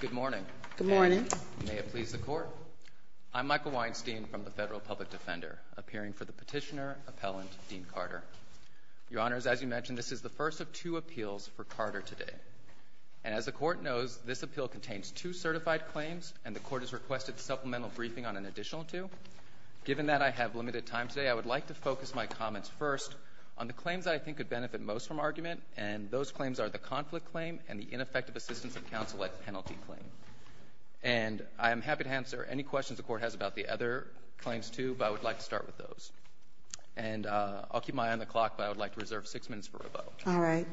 Good morning. Good morning. May it please the Court. I'm Michael Weinstein from the Federal Public Defender, appearing for the Petitioner Appellant Dean Carter. Your Honors, as you mentioned, this is the first of two appeals for Carter today. And as the Court knows, this appeal contains two certified claims, and the Court has requested supplemental briefing on an additional two. Given that I have limited time today, I would like to focus my comments first on the claims that I think could benefit most from argument, and those claims are the conflict claim and the ineffective assistance of counsel at penalty claim. And I am happy to answer any questions the Court has about the other claims, too, but I would like to start with those. And I'll keep my eye on the clock, but I would like to reserve six minutes for rebuttal. All right.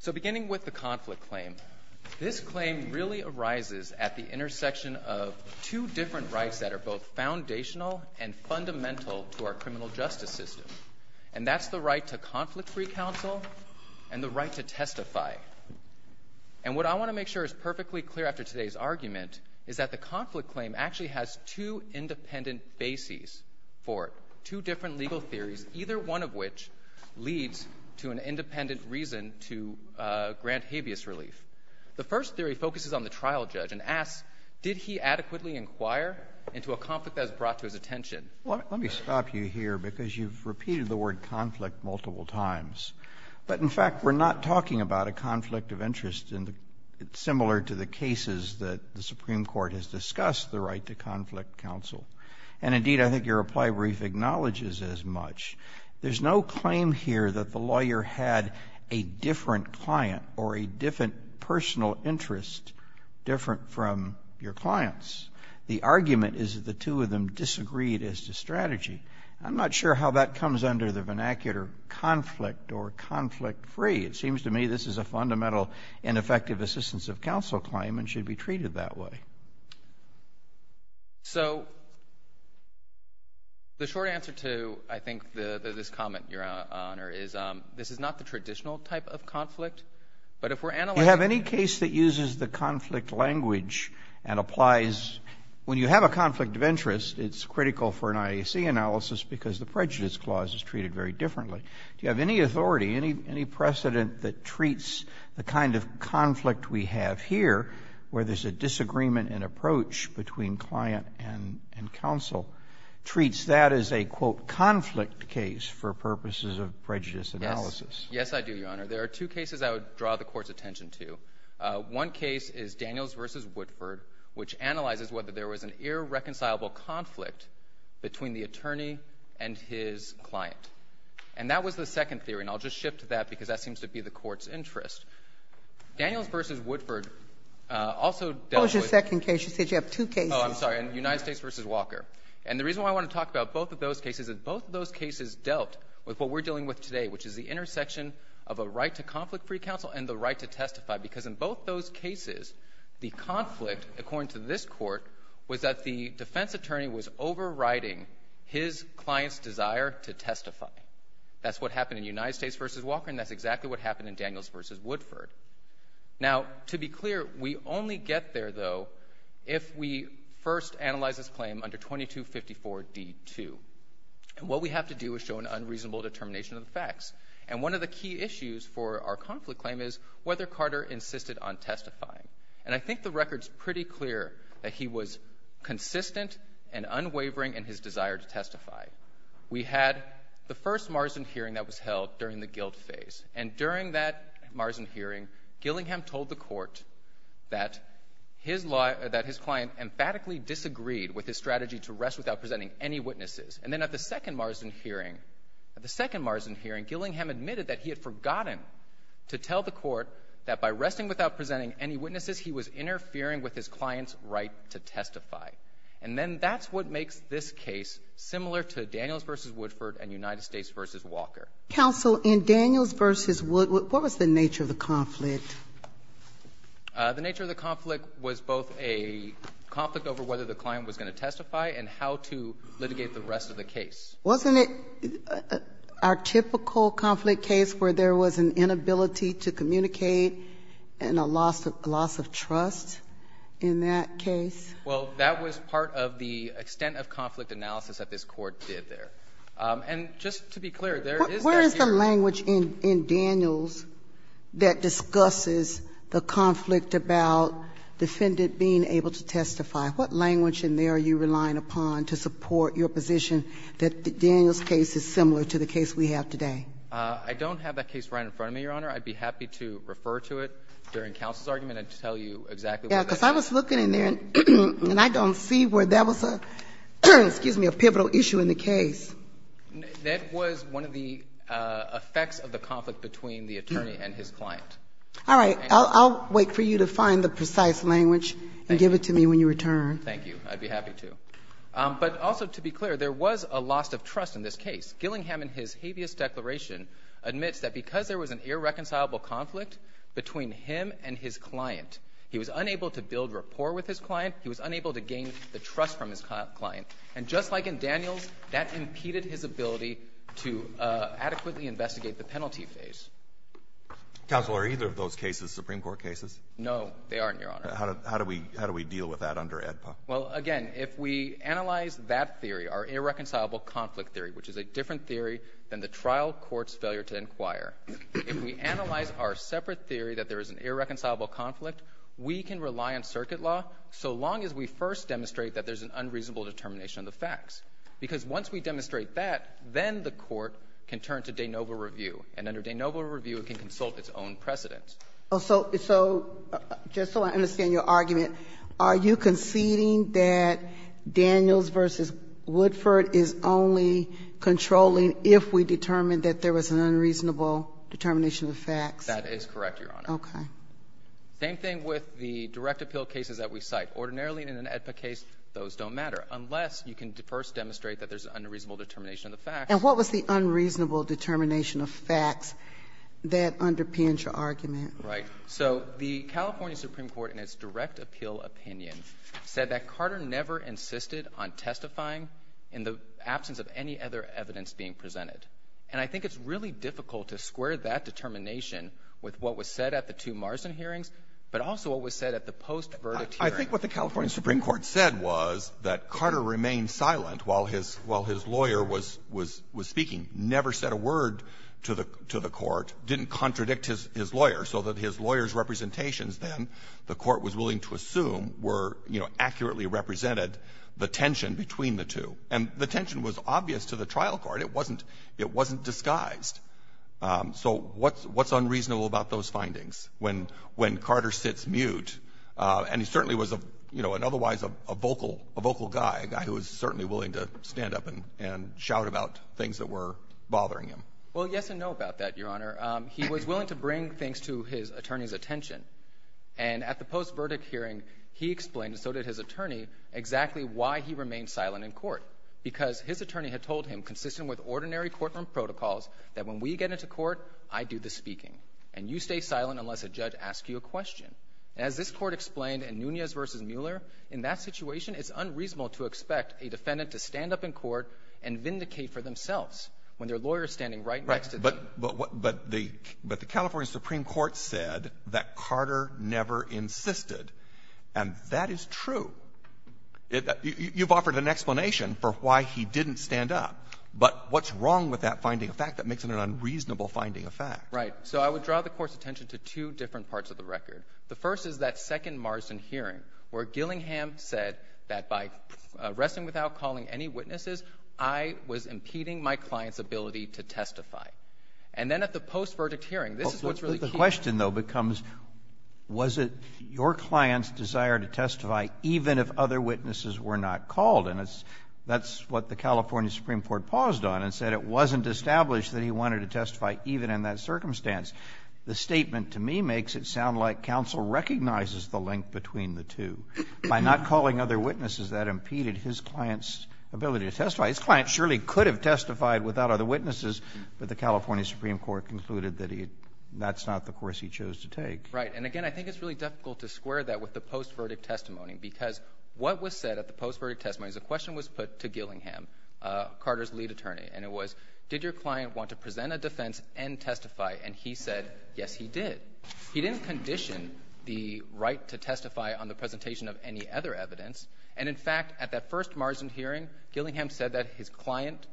So beginning with the conflict claim, this claim really arises at the intersection of two different rights that are both foundational and fundamental to our criminal justice system. And that's the right to conflict-free counsel and the right to testify. And what I want to make sure is perfectly clear after today's argument is that the conflict claim actually has two independent bases for it, two different legal theories, either one of which leads to an independent reason to grant habeas relief. The first theory focuses on the trial judge and asks, did he adequately inquire into a conflict that was brought to his attention? Let me stop you here because you've repeated the word conflict multiple times. But, in fact, we're not talking about a conflict of interest similar to the cases that the Supreme Court has discussed, the right to conflict counsel. And, indeed, I think your reply brief acknowledges as much. There's no claim here that the lawyer had a different client or a different personal interest different from your client's. The argument is that the two of them disagreed as to strategy. I'm not sure how that comes under the vernacular conflict or conflict-free. It seems to me this is a fundamental ineffective assistance of counsel claim and should be treated that way. So the short answer to, I think, this comment, Your Honor, is this is not the traditional type of conflict. But if we're analyzing it. Roberts. Do you have any case that uses the conflict language and applies? When you have a conflict of interest, it's critical for an IAC analysis because the prejudice clause is treated very differently. Do you have any authority, any precedent that treats the kind of conflict we have here, where there's a disagreement in approach between client and counsel, treats that as a, quote, conflict case for purposes of prejudice analysis? Yes, I do, Your Honor. There are two cases I would draw the Court's attention to. One case is Daniels v. Woodford, which analyzes whether there was an irreconcilable conflict between the attorney and his client. And that was the second theory. And I'll just shift to that because that seems to be the Court's interest. Daniels v. Woodford also dealt with. What was your second case? You said you have two cases. Oh, I'm sorry. United States v. Walker. And the reason why I want to talk about both of those cases is both of those cases dealt with what we're dealing with today, which is the intersection of a right to conflict-free counsel and the right to testify, because in both those cases, the conflict, according to this Court, was that the defense attorney was overriding his client's desire to testify. That's what happened in United States v. Walker, and that's exactly what happened in Daniels v. Woodford. Now, to be clear, we only get there, though, if we first analyze this claim under 2254d-2. And what we have to do is show an unreasonable determination of the facts. And one of the key issues for our conflict claim is whether Carter insisted on testifying. And I think the record's pretty clear that he was consistent and unwavering in his desire to testify. We had the first Marsden hearing that was held during the guilt phase. And during that Marsden hearing, Gillingham told the court that his client emphatically disagreed with his strategy to rest without presenting any witnesses. And then at the second Marsden hearing, at the second Marsden hearing, Gillingham admitted that he had forgotten to tell the court that by resting without presenting any witnesses, he was interfering with his client's right to testify. And then that's what makes this case similar to Daniels v. Woodford and United States v. Walker. Counsel, in Daniels v. Woodford, what was the nature of the conflict? The nature of the conflict was both a conflict over whether the client was going to testify and how to litigate the rest of the case. Wasn't it our typical conflict case where there was an inability to communicate and a loss of trust in that case? Well, that was part of the extent of conflict analysis that this Court did there. And just to be clear, there is that here. Where is the language in Daniels that discusses the conflict about defendant being able to testify? What language in there are you relying upon to support your position that Daniels' case is similar to the case we have today? I don't have that case right in front of me, Your Honor. I'd be happy to refer to it during counsel's argument and tell you exactly what that is. Yes, because I was looking in there and I don't see where that was a pivotal issue in the case. That was one of the effects of the conflict between the attorney and his client. All right. I'll wait for you to find the precise language and give it to me when you return. Thank you. I'd be happy to. But also to be clear, there was a loss of trust in this case. Gillingham in his habeas declaration admits that because there was an irreconcilable conflict between him and his client, he was unable to build rapport with his client, he was unable to gain the trust from his client. And just like in Daniels, that impeded his ability to adequately investigate the penalty phase. Counsel, are either of those cases Supreme Court cases? No, they aren't, Your Honor. How do we deal with that under AEDPA? Well, again, if we analyze that theory, our irreconcilable conflict theory, which is a different theory than the trial court's failure to inquire, if we analyze our separate theory that there is an irreconcilable conflict, we can rely on circuit law so long as we first demonstrate that there's an unreasonable determination of the facts. Because once we demonstrate that, then the Court can turn to de novo review. And under de novo review, it can consult its own precedents. So just so I understand your argument, are you conceding that Daniels v. Woodford is only controlling if we determine that there was an unreasonable determination of the facts? That is correct, Your Honor. Okay. Same thing with the direct appeal cases that we cite. Ordinarily in an AEDPA case, those don't matter, unless you can first demonstrate that there's an unreasonable determination of the facts. And what was the unreasonable determination of facts that underpins your argument? Right. So the California Supreme Court in its direct appeal opinion said that Carter never insisted on testifying in the absence of any other evidence being presented. And I think it's really difficult to square that determination with what was said at the two Marsden hearings, but also what was said at the post-verdict hearing. I think what the California Supreme Court said was that Carter remained silent while his lawyer was speaking, never said a word to the Court, didn't contradict his lawyer, so that his lawyer's representations then, the Court was willing to assume, were, you know, accurately represented the tension between the two. And the tension was obvious to the trial court. It wasn't disguised. So what's unreasonable about those findings when Carter sits mute? And he certainly was, you know, an otherwise vocal guy, a guy who was certainly willing to stand up and shout about things that were bothering him. Well, yes and no about that, Your Honor. He was willing to bring things to his attorney's attention. And at the post-verdict hearing, he explained, and so did his attorney, exactly why he remained silent in court, because his attorney had told him, consistent with ordinary courtroom protocols, that when we get into court, I do the speaking, and you stay silent unless a judge asks you a question. And as this Court explained in Nunez v. Mueller, in that situation, it's unreasonable to expect a defendant to stand up in court and vindicate for themselves when their lawyer is standing right next to them. But the California Supreme Court said that Carter never insisted. And that is true. You've offered an explanation for why he didn't stand up. But what's wrong with that finding of fact that makes it an unreasonable finding of fact? Right. So I would draw the Court's attention to two different parts of the record. The first is that second Marsden hearing where Gillingham said that by resting without calling any witnesses, I was impeding my client's ability to testify. And then at the post-verdict hearing, this is what's really key. But the question, though, becomes, was it your client's desire to testify even if other witnesses were not called? And that's what the California Supreme Court paused on and said. It wasn't established that he wanted to testify even in that circumstance. The statement, to me, makes it sound like counsel recognizes the link between the two. By not calling other witnesses, that impeded his client's ability to testify. His client surely could have testified without other witnesses, but the California Supreme Court concluded that that's not the course he chose to take. Right. And, again, I think it's really difficult to square that with the post-verdict testimony because what was said at the post-verdict testimony is a question was put to Gillingham, Carter's lead attorney, and it was, did your client want to present a defense and testify? And he said, yes, he did. He didn't condition the right to testify on the presentation of any other evidence. And, in fact, at that first margin hearing, Gillingham said that his client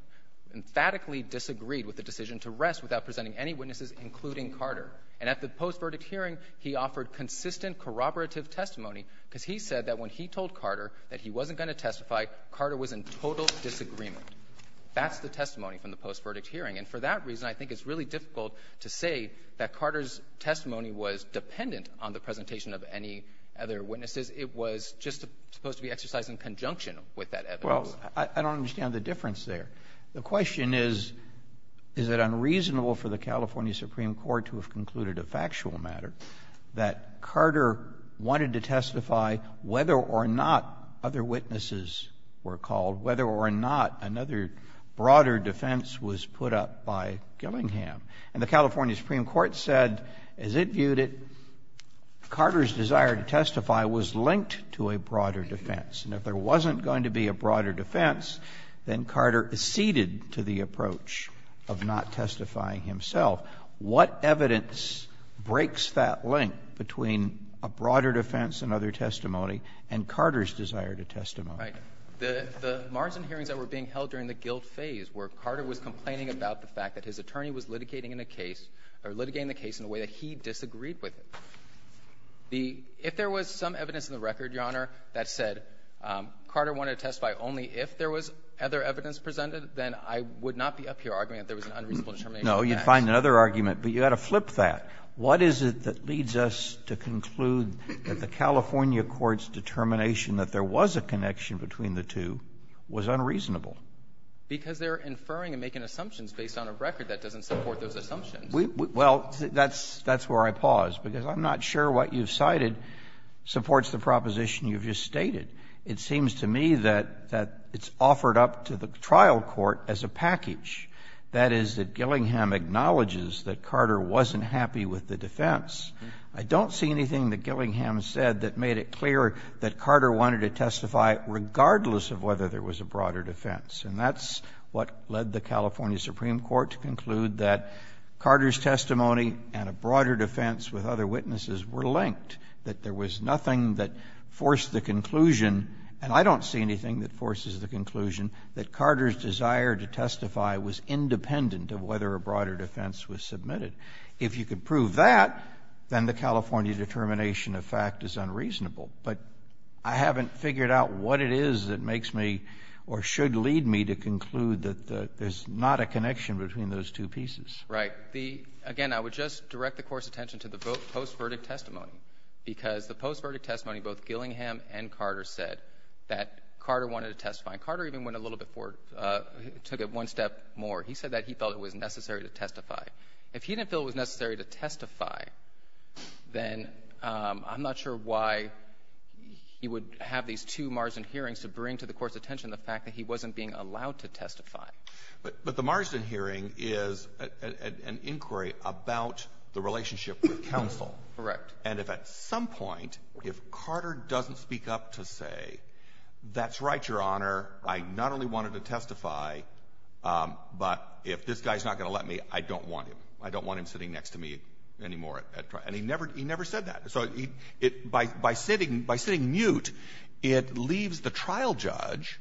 emphatically disagreed with the decision to rest without presenting any witnesses, including Carter. And at the post-verdict hearing, he offered consistent corroborative testimony because he said that when he told Carter that he wasn't going to testify, Carter was in total disagreement. That's the testimony from the post-verdict hearing. And for that reason, I think it's really difficult to say that Carter's testimony was dependent on the presentation of any other witnesses. It was just supposed to be exercised in conjunction with that evidence. Well, I don't understand the difference there. The question is, is it unreasonable for the California Supreme Court to have concluded a factual matter that Carter wanted to testify whether or not other witnesses were called, whether or not another broader defense was put up by Gillingham? And the California Supreme Court said, as it viewed it, Carter's desire to testify was linked to a broader defense. And if there wasn't going to be a broader defense, then Carter acceded to the approach of not testifying himself. What evidence breaks that link between a broader defense and other testimony and Carter's desire to testify? Right. The Marsden hearings that were being held during the guilt phase were Carter was complaining about the fact that his attorney was litigating the case in a way that he disagreed with it. If there was some evidence in the record, Your Honor, that said Carter wanted to testify only if there was other evidence presented, then I would not be up here arguing that there was an unreasonable determination of facts. No, you'd find another argument. But you've got to flip that. What is it that leads us to conclude that the California court's determination that there was a connection between the two was unreasonable? Because they're inferring and making assumptions based on a record that doesn't support those assumptions. Well, that's where I pause, because I'm not sure what you've cited supports the proposition you've just stated. It seems to me that it's offered up to the trial court as a package, that is, that I don't see anything that Gillingham said that made it clear that Carter wanted to testify regardless of whether there was a broader defense. And that's what led the California Supreme Court to conclude that Carter's testimony and a broader defense with other witnesses were linked, that there was nothing that forced the conclusion. And I don't see anything that forces the conclusion that Carter's desire to testify was independent of whether a broader defense was submitted. If you could prove that, then the California determination of fact is unreasonable. But I haven't figured out what it is that makes me or should lead me to conclude that there's not a connection between those two pieces. Right. Again, I would just direct the Court's attention to the post-verdict testimony, because the post-verdict testimony, both Gillingham and Carter said that Carter wanted to testify. And Carter even went a little bit forward, took it one step more. He said that he felt it was necessary to testify. If he didn't feel it was necessary to testify, then I'm not sure why he would have these two margin hearings to bring to the Court's attention the fact that he wasn't being allowed to testify. But the margin hearing is an inquiry about the relationship with counsel. Correct. And if at some point, if Carter doesn't speak up to say, that's right, Your Honor, I not only wanted to testify, but if this guy's not going to let me, I don't want him. I don't want him sitting next to me anymore. And he never said that. So by sitting mute, it leaves the trial judge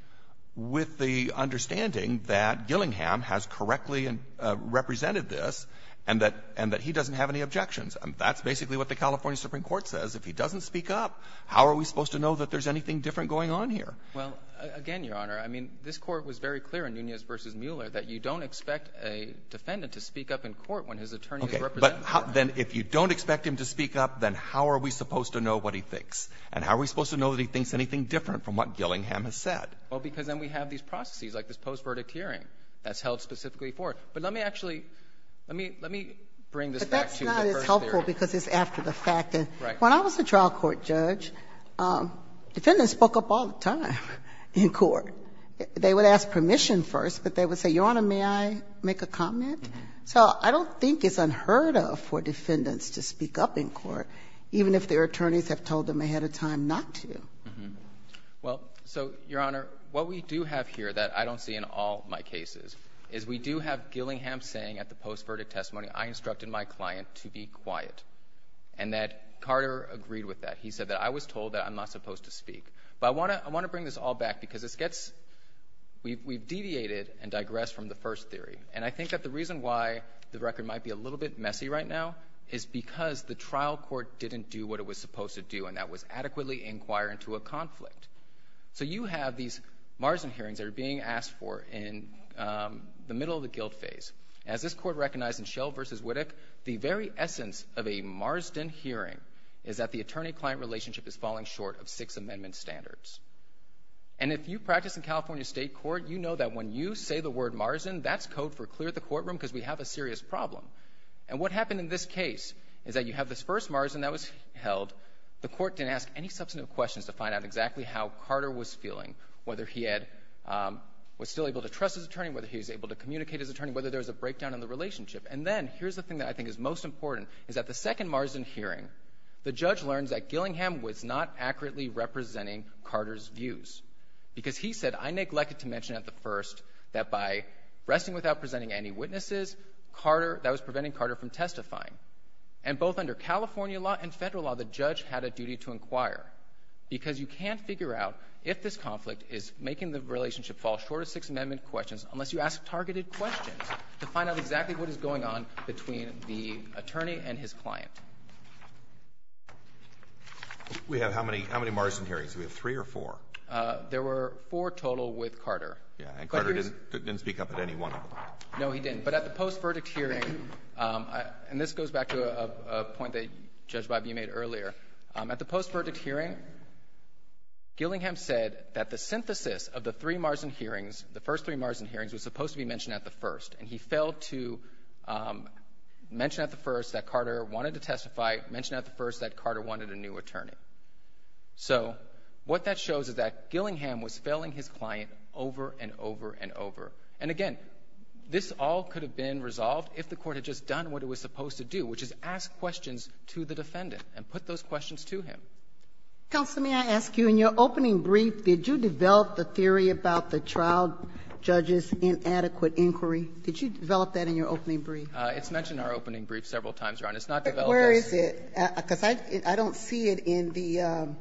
with the understanding that Gillingham has correctly represented this and that he doesn't have any objections. And that's basically what the California Supreme Court says. If he doesn't speak up, how are we supposed to know that there's anything different going on here? Well, again, Your Honor, I mean, this Court was very clear in Nunez v. Mueller that you don't expect a defendant to speak up in court when his attorney is represented. Okay. But then if you don't expect him to speak up, then how are we supposed to know what he thinks? And how are we supposed to know that he thinks anything different from what Gillingham has said? Well, because then we have these processes, like this post-verdict hearing that's held specifically for it. But let me actually, let me bring this back to the first theory. But that's not as helpful because it's after the fact. Right. When I was a trial court judge, defendants spoke up all the time in court. They would ask permission first, but they would say, Your Honor, may I make a comment? So I don't think it's unheard of for defendants to speak up in court, even if their attorneys have told them ahead of time not to. Well, so, Your Honor, what we do have here that I don't see in all my cases is we do have Gillingham saying at the post-verdict testimony, I instructed my client to be He said that I was told that I'm not supposed to speak. But I want to bring this all back because this gets, we've deviated and digressed from the first theory. And I think that the reason why the record might be a little bit messy right now is because the trial court didn't do what it was supposed to do, and that was adequately inquire into a conflict. So you have these Marsden hearings that are being asked for in the middle of the guilt phase. As this Court recognized in Schell v. Wittek, the very essence of a Marsden hearing is that the attorney-client relationship is falling short of Sixth Amendment standards. And if you practice in California State Court, you know that when you say the word Marsden, that's code for clear the courtroom because we have a serious problem. And what happened in this case is that you have this first Marsden that was held. The Court didn't ask any substantive questions to find out exactly how Carter was feeling, whether he was still able to trust his attorney, whether he was able to break down in the relationship. And then here's the thing that I think is most important, is that the second Marsden hearing, the judge learns that Gillingham was not accurately representing Carter's views because he said, I neglected to mention at the first that by resting without presenting any witnesses, that was preventing Carter from testifying. And both under California law and Federal law, the judge had a duty to inquire because you can't figure out if this conflict is making the relationship fall short of Sixth Amendment standards and find out exactly what is going on between the attorney and his client. We have how many Marsden hearings? Do we have three or four? There were four total with Carter. And Carter didn't speak up at any one of them? No, he didn't. But at the post-verdict hearing, and this goes back to a point that Judge Bibby made earlier, at the post-verdict hearing, Gillingham said that the synthesis of the three Marsden hearings, the first three Marsden hearings, was supposed to be mentioned at the first. And he failed to mention at the first that Carter wanted to testify, mention at the first that Carter wanted a new attorney. So what that shows is that Gillingham was failing his client over and over and over. And, again, this all could have been resolved if the Court had just done what it was supposed to do, which is ask questions to the defendant and put those questions to him. Counsel, may I ask you, in your opening brief, did you develop the theory about the trial judge's inadequate inquiry? Did you develop that in your opening brief? It's mentioned in our opening brief several times, Your Honor. It's not developed as your brief. But where is it? Because I don't see it in the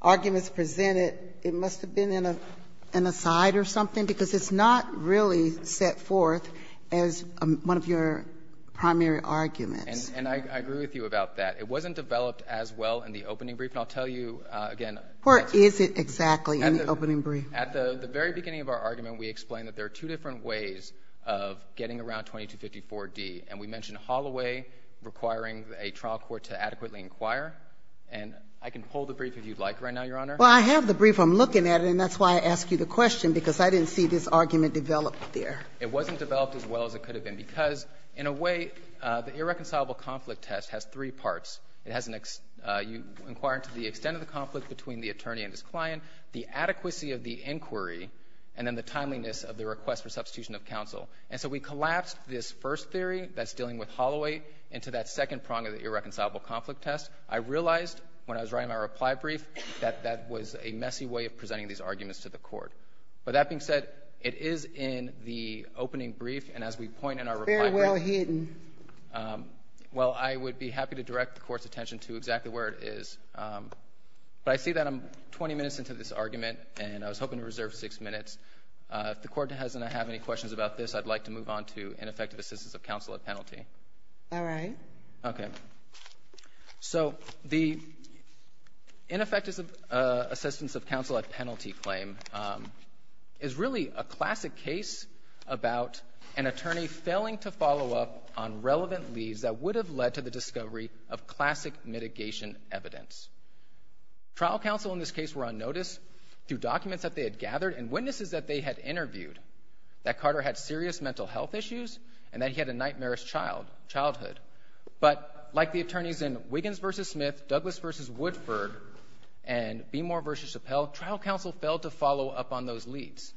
arguments presented. It must have been in a side or something, because it's not really set forth as one of your primary arguments. And I agree with you about that. It wasn't developed as well in the opening brief. And I'll tell you again. Where is it exactly in the opening brief? At the very beginning of our argument, we explained that there are two different ways of getting around 2254d. And we mentioned Holloway requiring a trial court to adequately inquire. And I can pull the brief if you'd like right now, Your Honor. Well, I have the brief. I'm looking at it, and that's why I asked you the question, because I didn't see this argument developed there. It wasn't developed as well as it could have been, because in a way, the irreconcilable conflict test has three parts. It has an you inquire into the extent of the conflict between the attorney and his client, the inquiry, and then the timeliness of the request for substitution of counsel. And so we collapsed this first theory that's dealing with Holloway into that second prong of the irreconcilable conflict test. I realized when I was writing my reply brief that that was a messy way of presenting these arguments to the Court. But that being said, it is in the opening brief. And as we point in our reply brief — It's very well hidden. Well, I would be happy to direct the Court's attention to exactly where it is. But I see that I'm 20 minutes into this argument, and I was hoping to reserve six minutes. If the Court doesn't have any questions about this, I'd like to move on to ineffective assistance of counsel at penalty. All right. Okay. So the ineffective assistance of counsel at penalty claim is really a classic case about an attorney failing to follow up on relevant leads that would have led to the Trial counsel in this case were on notice through documents that they had gathered and witnesses that they had interviewed that Carter had serious mental health issues and that he had a nightmarish childhood. But like the attorneys in Wiggins v. Smith, Douglas v. Woodford, and Beemore v. Chappelle, trial counsel failed to follow up on those leads.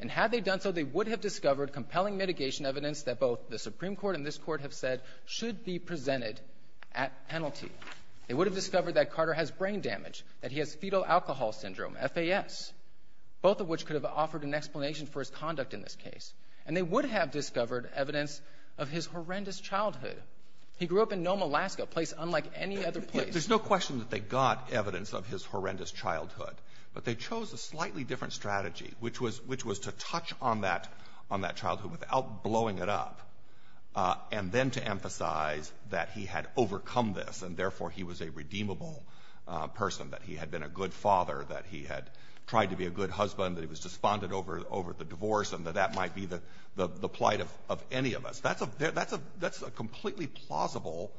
And had they done so, they would have discovered compelling mitigation evidence that both the Supreme Court and this Court have said should be presented at penalty. They would have discovered that Carter has brain damage, that he has fetal alcohol syndrome, FAS, both of which could have offered an explanation for his conduct in this case. And they would have discovered evidence of his horrendous childhood. He grew up in Nome, Alaska, a place unlike any other place. There's no question that they got evidence of his horrendous childhood. But they chose a slightly different strategy, which was to touch on that childhood without blowing it up, and then to emphasize that he had overcome this and, therefore, he was a redeemable person, that he had been a good father, that he had tried to be a good husband, that he was despondent over the divorce, and that that might be the plight of any of us. That's a completely plausible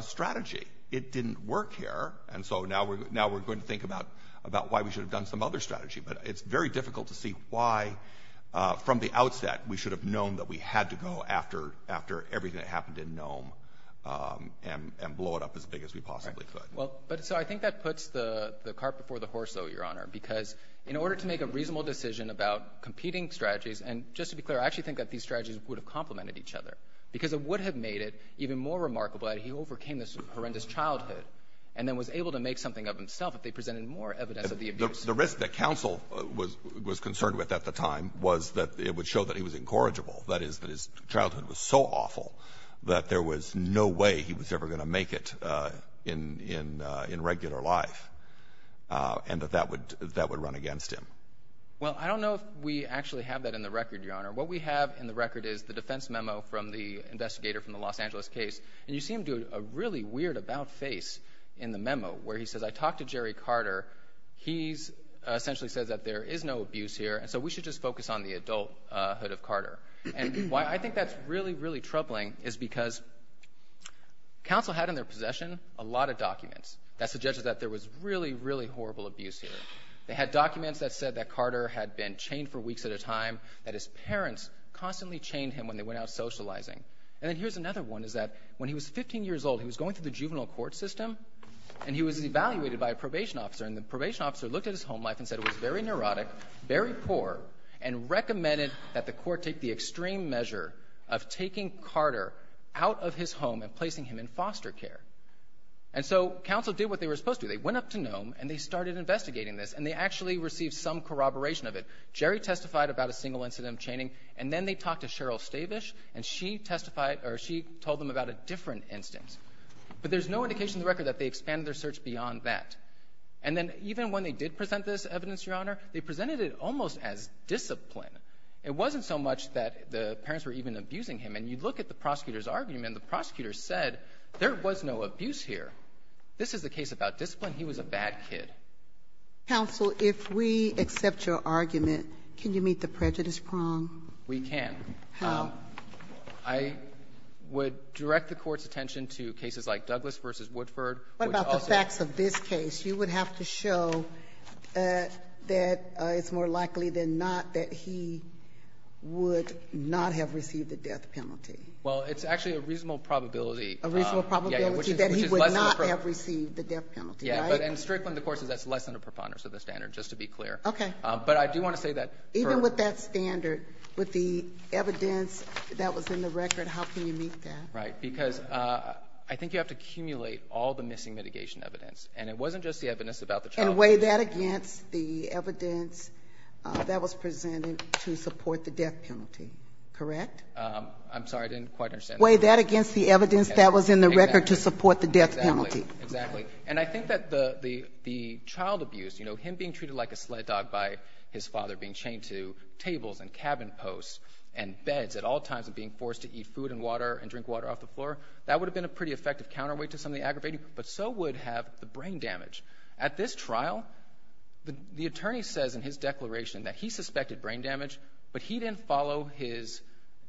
strategy. It didn't work here. And so now we're going to think about why we should have done some other strategy. But it's very difficult to see why, from the outset, we should have known that we had to go after everything that happened in Nome and blow it up as big as we possibly could. Right. Well, so I think that puts the cart before the horse, though, Your Honor, because in order to make a reasonable decision about competing strategies, and just to be clear, I actually think that these strategies would have complemented each other, because it would have made it even more remarkable that he overcame this horrendous childhood and then was able to make something of himself if they presented more evidence of the abuse. The risk that counsel was concerned with at the time was that it would show that he was incorrigible, that is, that his childhood was so awful that there was no way he was ever going to make it in regular life, and that that would run against him. Well, I don't know if we actually have that in the record, Your Honor. What we have in the record is the defense memo from the investigator from the Los Angeles case. And you see him do a really weird about face in the memo, where he says, I talked to Jerry Carter. He essentially says that there is no abuse here, and so we should just focus on the adulthood of Carter. And why I think that's really, really troubling is because counsel had in their possession a lot of documents that suggested that there was really, really horrible abuse here. They had documents that said that Carter had been chained for weeks at a time, that his parents constantly chained him when they went out socializing. And then here's another one, is that when he was 15 years old, he was going through the juvenile court system, and he was evaluated by a probation officer. And the probation officer looked at his home life and said it was very neurotic, very poor, and recommended that the court take the extreme measure of taking Carter out of his home and placing him in foster care. And so counsel did what they were supposed to do. They went up to Nome, and they started investigating this, and they actually received some corroboration of it. Jerry testified about a single incident of chaining, and then they talked to Cheryl Stavish, and she testified or she told them about a different instance. But there's no indication in the record that they expanded their search beyond that. And then even when they did present this evidence, Your Honor, they presented it almost as discipline. It wasn't so much that the parents were even abusing him. And you look at the prosecutor's argument. The prosecutor said there was no abuse here. This is a case about discipline. He was a bad kid. Ginsburg. If we accept your argument, can you meet the prejudice prong? We can. How? I would direct the Court's attention to cases like Douglas v. Woodford. What about the facts of this case? You would have to show that it's more likely than not that he would not have received the death penalty. Well, it's actually a reasonable probability. A reasonable probability that he would not have received the death penalty, right? Yeah. But in Strickland, of course, that's less than a preponderance of the standard, just to be clear. Okay. But I do want to say that for— Even with that standard, with the evidence that was in the record, how can you meet that? Right. Because I think you have to accumulate all the missing mitigation evidence. And it wasn't just the evidence about the child— And weigh that against the evidence that was presented to support the death penalty. Correct? I'm sorry. I didn't quite understand that. Weigh that against the evidence that was in the record to support the death penalty. Exactly. Exactly. And I think that the child abuse, you know, him being treated like a sled dog by his father being chained to tables and cabin posts and beds at all times and being forced to eat food and water and drink water off the floor, that would have been a pretty effective counterweight to something aggravating. But so would have the brain damage. At this trial, the attorney says in his declaration that he suspected brain damage, but he didn't follow his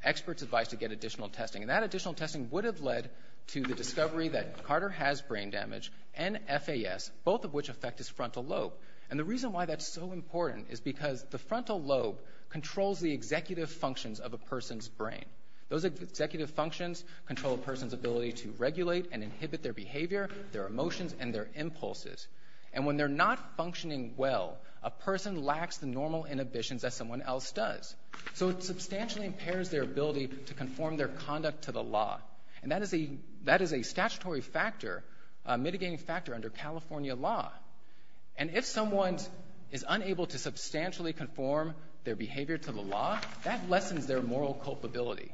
expert's advice to get additional testing. And that additional testing would have led to the discovery that Carter has brain damage and FAS, both of which affect his frontal lobe. And the reason why that's so important is because the frontal lobe controls the executive functions of a person's brain. Those executive functions control a person's ability to regulate and inhibit their behavior, their emotions, and their impulses. And when they're not functioning well, a person lacks the normal inhibitions that someone else does. So it substantially impairs their ability to conform their conduct to the law. And that is a statutory factor, a mitigating factor under California law. And if someone is unable to substantially conform their behavior to the law, that lessens their moral culpability.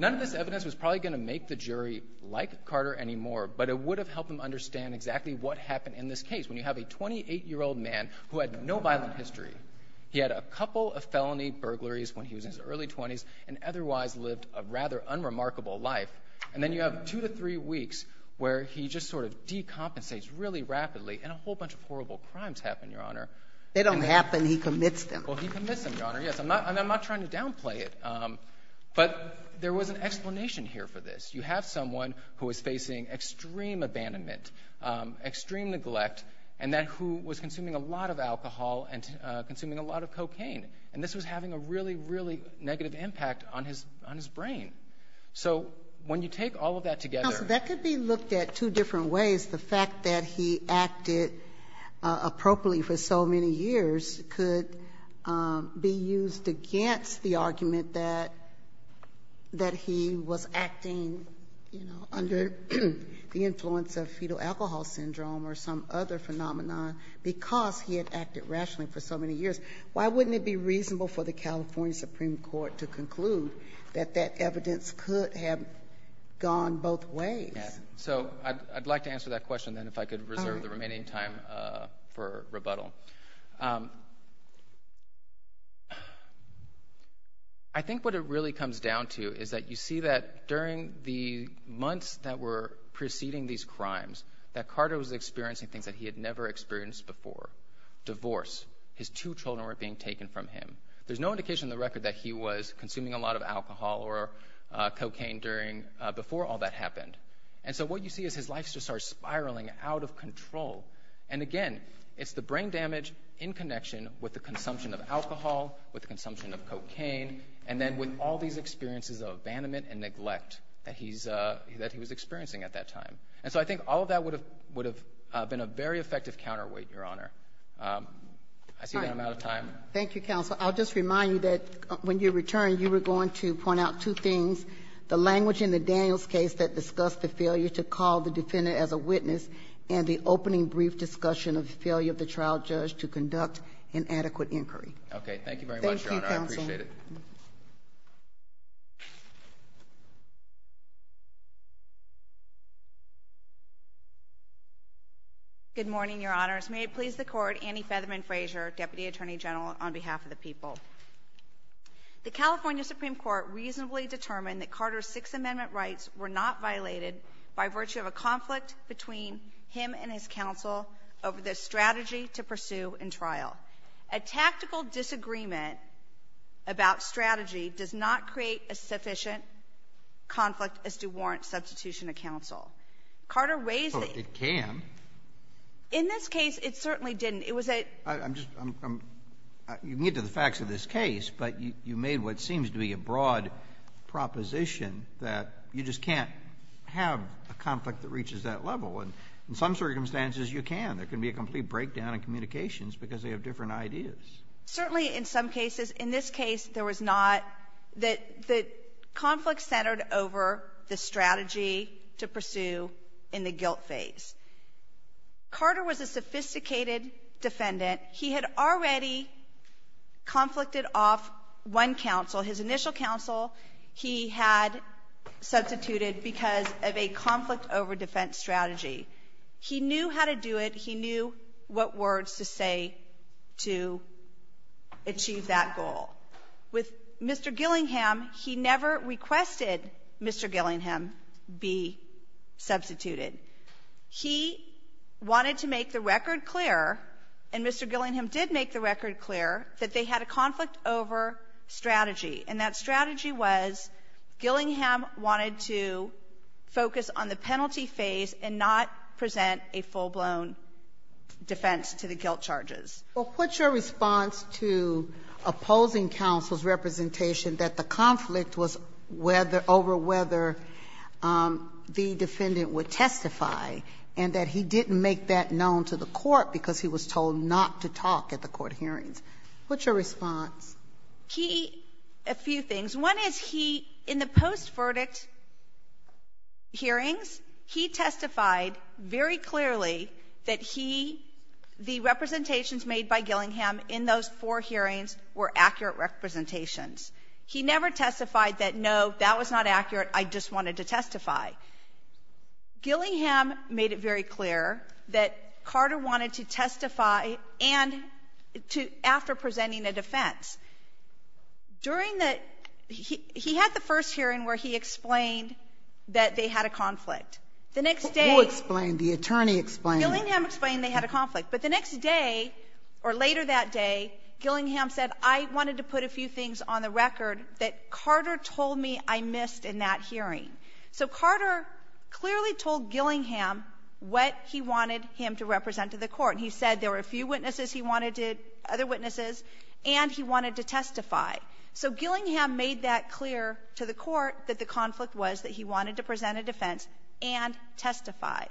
None of this evidence was probably going to make the jury like Carter anymore, but it would have helped them understand exactly what happened in this case. When you have a 28-year-old man who had no violent history, he had a couple of felony burglaries when he was in his early 20s, and otherwise lived a rather unremarkable life, and then you have two to three weeks where he just sort of decompensates really rapidly and a whole bunch of horrible crimes happen, Your Honor. They don't happen. He commits them. Well, he commits them, Your Honor, yes. I'm not trying to downplay it, but there was an explanation here for this. You have someone who is facing extreme abandonment, extreme neglect, and then who was consuming a lot of alcohol and consuming a lot of cocaine. And this was having a really, really negative impact on his brain. So when you take all of that together. Counsel, that could be looked at two different ways. The fact that he acted appropriately for so many years could be used against the argument that he was acting, you know, under the influence of fetal alcohol syndrome or some other phenomenon because he had acted rationally for so many years. Why wouldn't it be reasonable for the California Supreme Court to conclude that that evidence could have gone both ways? So I'd like to answer that question, then, if I could reserve the remaining time for rebuttal. I think what it really comes down to is that you see that during the months that were preceding these crimes that Carter was experiencing things that he had never experienced before. Divorce. His two children were being taken from him. There's no indication in the record that he was consuming a lot of alcohol or cocaine before all that happened. And again, it's the brain damage in connection with the consumption of alcohol, with the consumption of cocaine, and then with all these experiences of abandonment and neglect that he was experiencing at that time. And so I think all of that would have been a very effective counterweight, Your Honor. I see that I'm out of time. Thank you, Counsel. I'll just remind you that when you returned, you were going to point out two things, the language in the Daniels case that discussed the failure to call the defendant as a witness and the opening brief discussion of the failure of the trial judge to conduct an adequate inquiry. Okay. Thank you very much, Your Honor. I appreciate it. Thank you, Counsel. Good morning, Your Honors. May it please the Court, Annie Featherman Frazier, Deputy Attorney General on behalf of the people. The California Supreme Court reasonably determined that Carter's Sixth Amendment rights were not violated by virtue of a conflict between him and his counsel over the strategy to pursue in trial. A tactical disagreement about strategy does not create a sufficient conflict as to warrant substitution of counsel. Carter raised the ---- Well, it can. In this case, it certainly didn't. It was a ---- I'm just ---- you can get to the facts of this case, but you made what seems to be a broad proposition that you just can't have a conflict that reaches that level. And in some circumstances, you can. There can be a complete breakdown in communications because they have different ideas. Certainly in some cases. In this case, there was not. The conflict centered over the strategy to pursue in the guilt phase. Carter was a sophisticated defendant. He had already conflicted off one counsel. His initial counsel he had substituted because of a conflict over defense strategy. He knew how to do it. He knew what words to say to achieve that goal. With Mr. Gillingham, he never requested Mr. Gillingham be substituted. He wanted to make the record clear, and Mr. Gillingham did make the record clear, that they had a conflict over strategy. And that strategy was, Gillingham wanted to focus on the penalty phase and not present a full-blown defense to the guilt charges. Well, what's your response to opposing counsel's representation that the conflict was over whether the defendant would testify and that he didn't make that known to the court because he was told not to talk at the court hearings? What's your response? He ---- a few things. One is he, in the post-verdict hearings, he testified very clearly that he, the representations made by Gillingham in those four hearings were accurate representations. He never testified that, no, that was not accurate. I just wanted to testify. Gillingham made it very clear that Carter wanted to testify and to ---- after presenting a defense. During the ---- he had the first hearing where he explained that they had a conflict. The next day ---- Who explained? The attorney explained? Gillingham explained they had a conflict. But the next day or later that day, Gillingham said, I wanted to put a few things on the record that Carter told me I missed in that hearing. So Carter clearly told Gillingham what he wanted him to represent to the court, and he said there were a few witnesses he wanted to ---- other witnesses, and he wanted to testify. So Gillingham made that clear to the court that the conflict was that he wanted to present a defense and testify.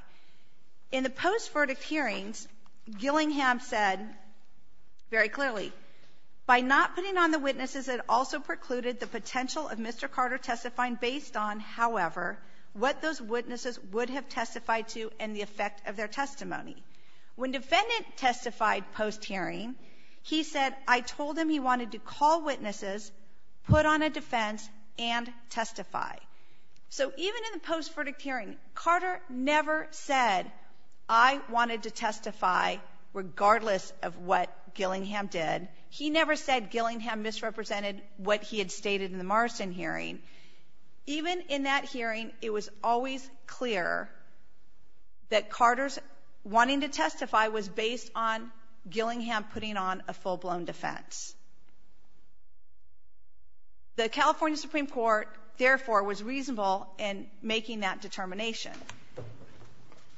In the post-verdict hearings, Gillingham said very clearly, by not putting on the witnesses, it also precluded the potential of Mr. Carter testifying based on, however, what those witnesses would have testified to and the effect of their testimony. When defendant testified post-hearing, he said, I told him he wanted to call witnesses, put on a defense, and testify. So even in the post-verdict hearing, Carter never said, I wanted to testify regardless of what Gillingham did. He never said Gillingham misrepresented what he had stated in the Morrison hearing. Even in that hearing, it was always clear that Carter's wanting to testify was based on Gillingham putting on a full-blown defense. The California Supreme Court, therefore, was reasonable in making that determination.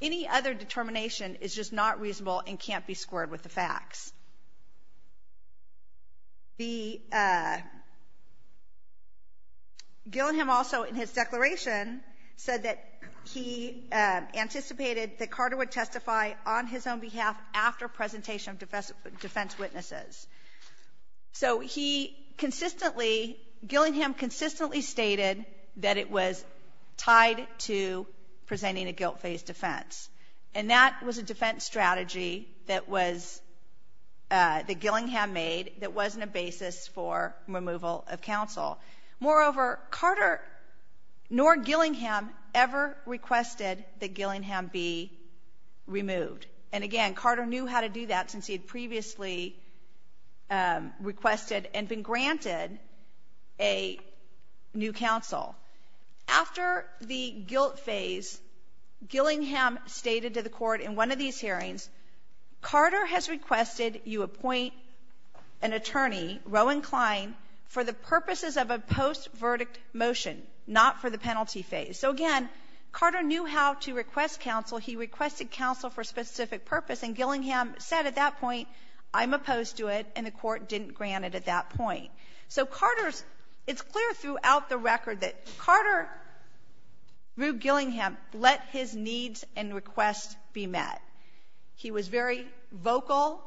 Any other determination is just not reasonable and can't be squared with the facts. The ---- Gillingham also, in his declaration, said that he anticipated that Carter would testify on his own behalf after presentation of defense witnesses. So he consistently, Gillingham consistently stated that it was tied to presenting a guilt-based defense. And that was a defense strategy that was, that Gillingham made that wasn't a basis for removal of counsel. Moreover, Carter nor Gillingham ever requested that Gillingham be removed. And again, Carter knew how to do that since he had previously requested and been granted a new counsel. After the guilt phase, Gillingham stated to the court in one of these hearings, Carter has requested you appoint an attorney, Rowan Klein, for the purposes of a post-verdict motion, not for the penalty phase. So again, Carter knew how to request counsel. He requested counsel for a specific purpose. And Gillingham said at that point, I'm opposed to it. And the court didn't grant it at that point. So Carter's ---- it's clear throughout the record that Carter, through Gillingham, let his needs and requests be met. He was very vocal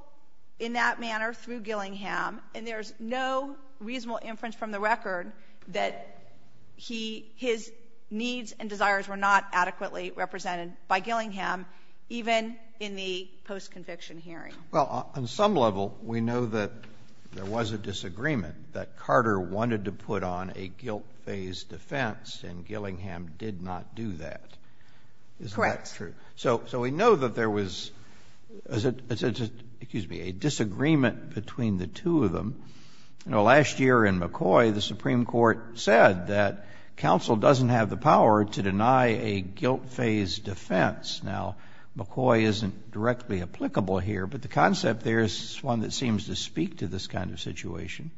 in that manner through Gillingham. And there's no reasonable inference from the record that he, his needs and desires were not adequately represented by Gillingham, even in the post-conviction hearing. Well, on some level, we know that there was a disagreement, that Carter wanted to put on a guilt phase defense, and Gillingham did not do that. Correct. Is that true? So we know that there was a disagreement between the two of them. You know, last year in McCoy, the Supreme Court said that counsel doesn't have the authority to deny a guilt phase defense. Now, McCoy isn't directly applicable here, but the concept there is one that seems to speak to this kind of situation.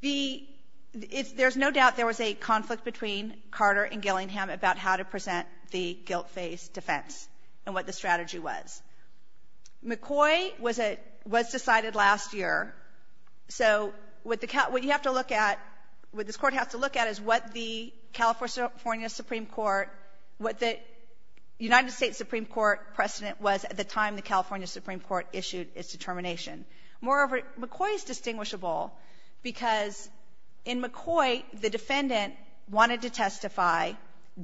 The ---- there's no doubt there was a conflict between Carter and Gillingham about how to present the guilt phase defense and what the strategy was. McCoy was a ---- was decided last year. So what the ---- what you have to look at, what this Court has to look at is what the California Supreme Court, what the United States Supreme Court precedent was at the time the California Supreme Court issued its determination. Moreover, McCoy is distinguishable because in McCoy, the defendant wanted to testify,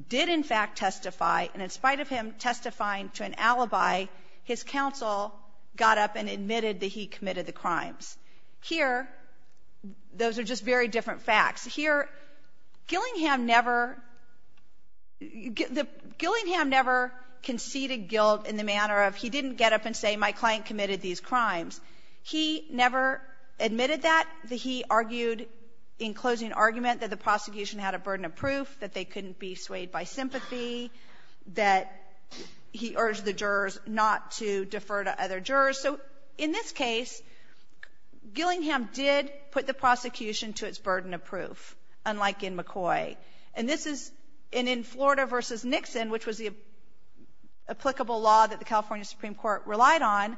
did, in fact, testify, and in spite of him testifying to an alibi, his counsel got up and admitted that he committed the crimes. Here, those are just very different facts. Here, Gillingham never ---- Gillingham never conceded guilt in the manner of he didn't get up and say my client committed these crimes. He never admitted that. He argued in closing argument that the prosecution had a burden of proof, that they couldn't be swayed by sympathy, that he urged the jurors not to defer to other jurors. So in this case, Gillingham did put the prosecution to its burden of proof, unlike in McCoy. And this is ---- and in Florida v. Nixon, which was the applicable law that the California Supreme Court relied on,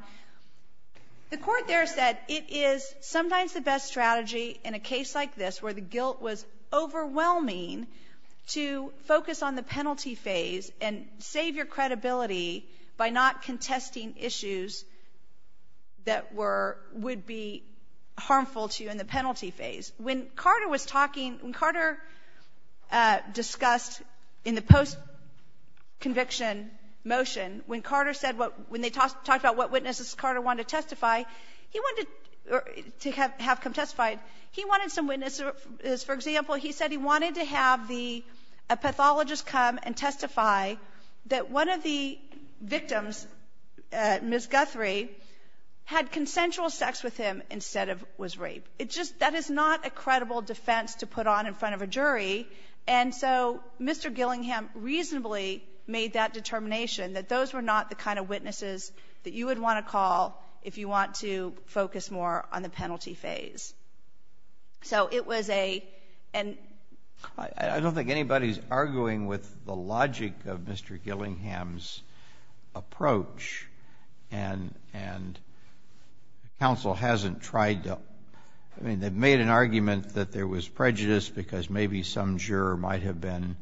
the Court there said it is sometimes the best strategy in a case like this where the guilt was overwhelming to focus on the penalty phase and save your credibility by not contesting issues that were ---- would be harmful to you in the penalty phase. When Carter was talking ---- when Carter discussed in the post-conviction motion, when Carter said what ---- when they talked about what witnesses Carter wanted to testify, he wanted to have come testify, he wanted some witnesses. For example, he said he wanted to have the ---- a pathologist come and testify that one of the victims, Ms. Guthrie, had consensual sex with him instead of was raped. It just ---- that is not a credible defense to put on in front of a jury. And so Mr. Gillingham reasonably made that determination, that those were not the kind of witnesses that you would want to call if you want to focus more on the penalty phase. So it was a ---- and ---- I don't think anybody is arguing with the logic of Mr. Gillingham's approach, and counsel hasn't tried to ---- I mean, they've made an argument that there was prejudice because maybe some juror might have been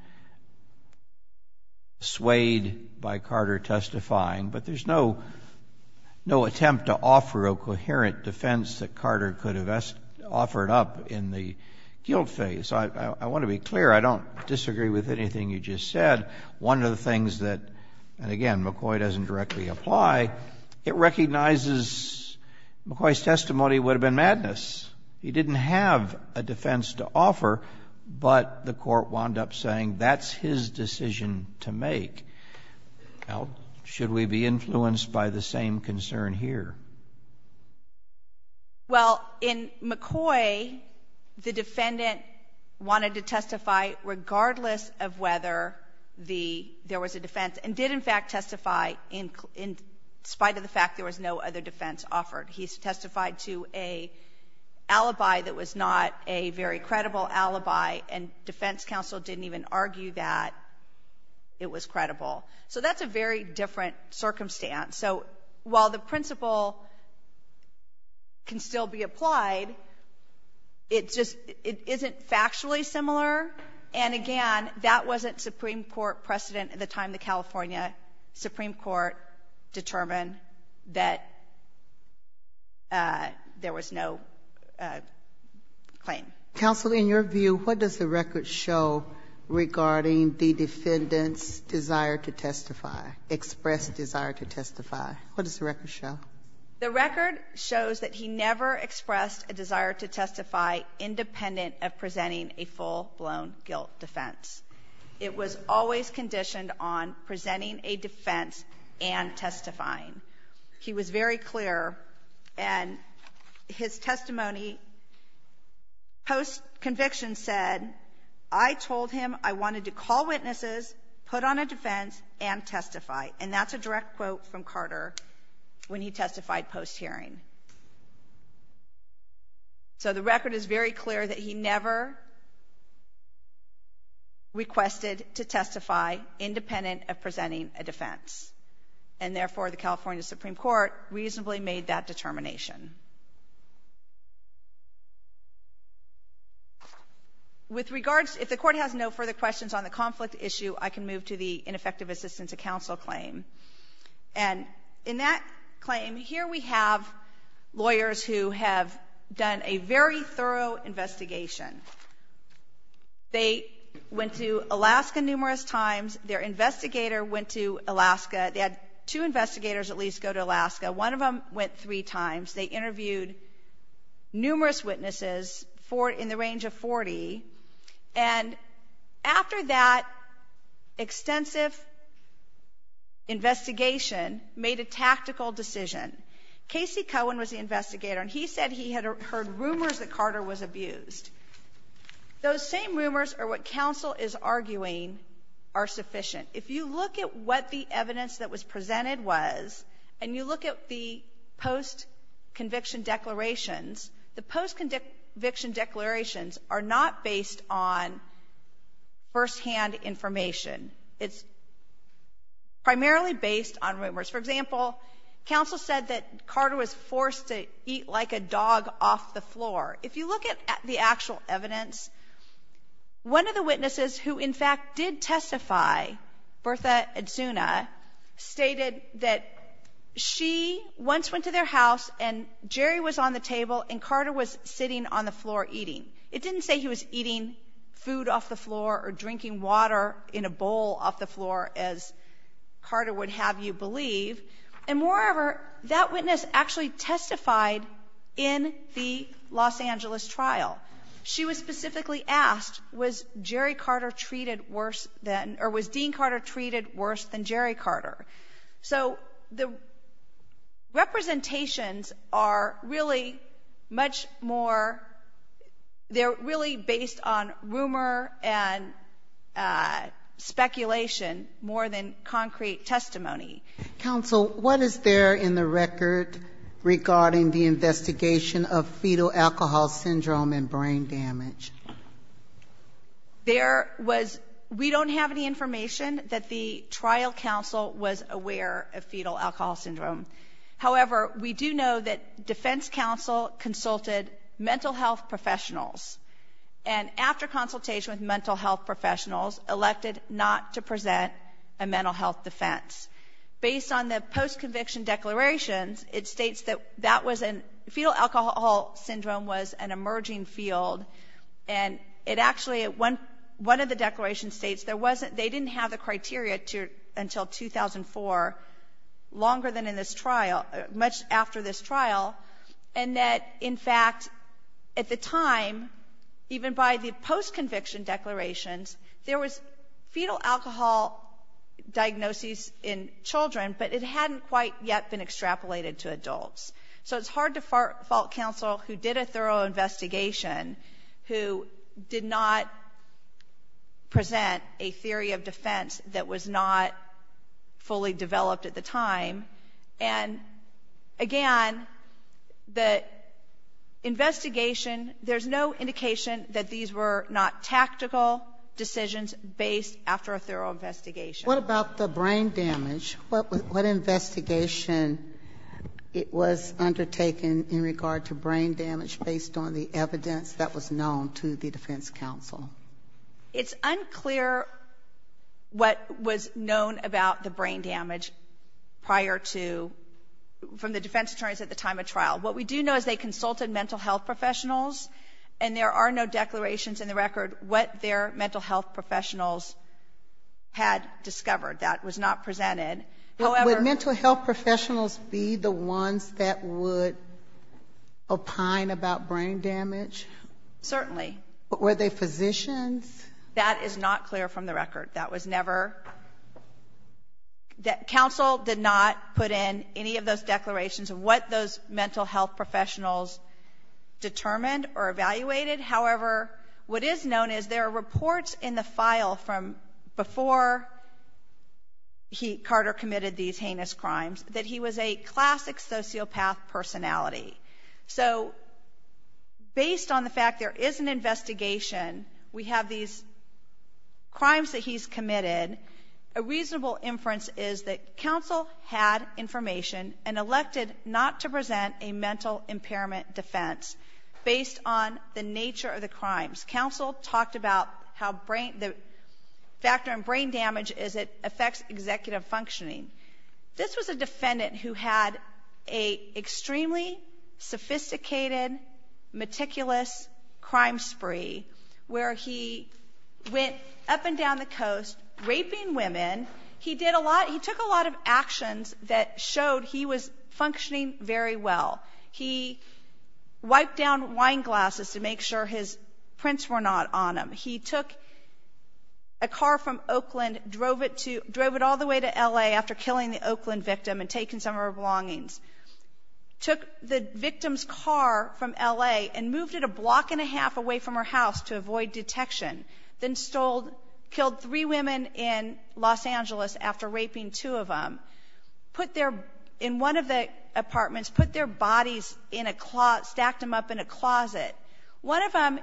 swayed by Carter testifying, but there's no attempt to offer a coherent defense that Carter could have offered up in the guilt phase. I want to be clear, I don't disagree with anything you just said. One of the things that, and again, McCoy doesn't directly apply, it recognizes McCoy's testimony would have been madness. He didn't have a defense to offer, but the Court wound up saying that's his decision to make. Now, should we be influenced by the same concern here? Well, in McCoy, the defendant wanted to testify regardless of whether there was a defense, and did in fact testify in spite of the fact there was no other defense offered. He testified to an alibi that was not a very credible alibi, and defense counsel didn't even argue that it was credible. So that's a very different circumstance. So while the principle can still be applied, it just isn't factually similar, and again, that wasn't Supreme Court precedent at the time the California Supreme Court determined that there was no claim. Counsel, in your view, what does the record show regarding the defendant's desire to testify, expressed desire to testify? What does the record show? The record shows that he never expressed a desire to testify independent of presenting a full-blown guilt defense. It was always conditioned on presenting a defense and testifying. He was very clear, and his testimony post-conviction said, I told him I wanted to call witnesses, put on a defense, and testify. And that's a direct quote from Carter when he testified post-hearing. So the record is very clear that he never requested to testify independent of presenting a defense. And therefore, the California Supreme Court reasonably made that determination. With regards, if the Court has no further questions on the conflict issue, I can move to the ineffective assistance of counsel claim. And in that claim, here we have lawyers who have done a very thorough investigation. They went to Alaska numerous times. Their investigator went to Alaska. They had two investigators at least go to Alaska. One of them went three times. They interviewed numerous witnesses in the range of 40. And after that extensive investigation, made a tactical decision. Casey Cohen was the investigator, and he said he had heard rumors that Carter was abused. Those same rumors are what counsel is arguing are sufficient. If you look at what the evidence that was presented was, and you look at the post- conviction declarations, the post-conviction declarations are not based on firsthand information. It's primarily based on rumors. For example, counsel said that Carter was forced to eat like a dog off the floor. If you look at the actual evidence, one of the witnesses who in fact did testify, Bertha Edzuna, stated that she once went to their house and Jerry was on the table and Carter was sitting on the floor eating. It didn't say he was eating food off the floor or drinking water in a bowl off the floor, as Carter would have you believe. And moreover, that witness actually testified in the Los Angeles trial. She was specifically asked, was Jerry Carter treated worse than, or was Dean Carter treated worse than Jerry Carter? So the representations are really much more, they're really based on rumor and speculation more than concrete testimony. Counsel, what is there in the record regarding the investigation of fetal alcohol syndrome and brain damage? There was, we don't have any information that the trial counsel was aware of fetal alcohol syndrome. However, we do know that defense counsel consulted mental health professionals, and after consultation with mental health professionals, elected not to present a statement. Based on the post-conviction declarations, it states that that was, fetal alcohol syndrome was an emerging field, and it actually, one of the declarations states there wasn't, they didn't have the criteria until 2004, longer than in this trial, much after this trial, and that in fact, at the time, even by the post-conviction declarations, there was fetal alcohol diagnoses in children, but it hadn't quite yet been extrapolated to adults. So it's hard to fault counsel who did a thorough investigation, who did not present a theory of defense that was not fully developed at the time, and again, the practical decisions based after a thorough investigation. What about the brain damage? What investigation was undertaken in regard to brain damage based on the evidence that was known to the defense counsel? It's unclear what was known about the brain damage prior to, from the defense attorneys at the time of trial. What we do know is they consulted mental health professionals, and there are no declarations in the record what their mental health professionals had discovered. That was not presented. Would mental health professionals be the ones that would opine about brain damage? Certainly. Were they physicians? That is not clear from the record. That was never, counsel did not put in any of those declarations what those mental health professionals determined or evaluated. However, what is known is there are reports in the file from before Carter committed these heinous crimes that he was a classic sociopath personality. So based on the fact there is an investigation, we have these crimes that he's been elected not to present a mental impairment defense based on the nature of the crimes. Counsel talked about how brain, the factor in brain damage is it affects executive functioning. This was a defendant who had a extremely sophisticated, meticulous crime spree where he went up and down the coast raping women. He did a lot, he took a lot of actions that showed he was functioning very well. He wiped down wine glasses to make sure his prints were not on them. He took a car from Oakland, drove it to, drove it all the way to L.A. after killing the Oakland victim and taking some of her belongings. Took the victim's car from L.A. and moved it a block and a half away from her house to avoid detection. Then stole, killed three women in Los Angeles after raping two of them. Put their, in one of the apartments, put their bodies in a, stacked them up in a closet. One of them,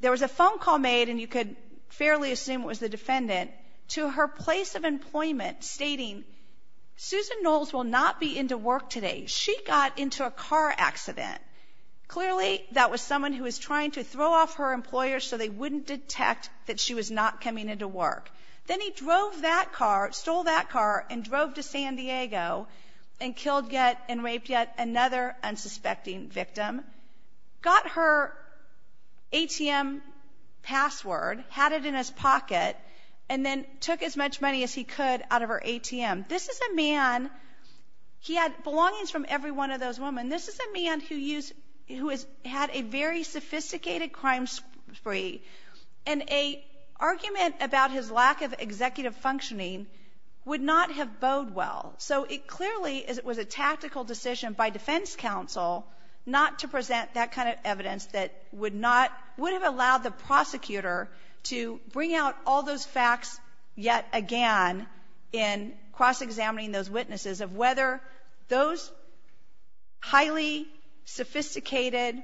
there was a phone call made, and you could fairly assume it was the defendant, to her place of employment stating, Susan Knowles will not be into work today. She got into a car accident. Clearly that was someone who was trying to throw off her employer so they wouldn't detect that she was not coming into work. Then he drove that car, stole that car, and drove to San Diego and killed yet, and raped yet another unsuspecting victim. Got her ATM password, had it in his pocket, and then took as much money as he could out of her ATM. This is a man, he had belongings from every one of those women. And this is a man who used, who had a very sophisticated crime spree. And a argument about his lack of executive functioning would not have bode well. So it clearly was a tactical decision by defense counsel not to present that kind of evidence that would not, would have allowed the prosecutor to bring out all those facts yet again in cross-examining those witnesses of whether those highly sophisticated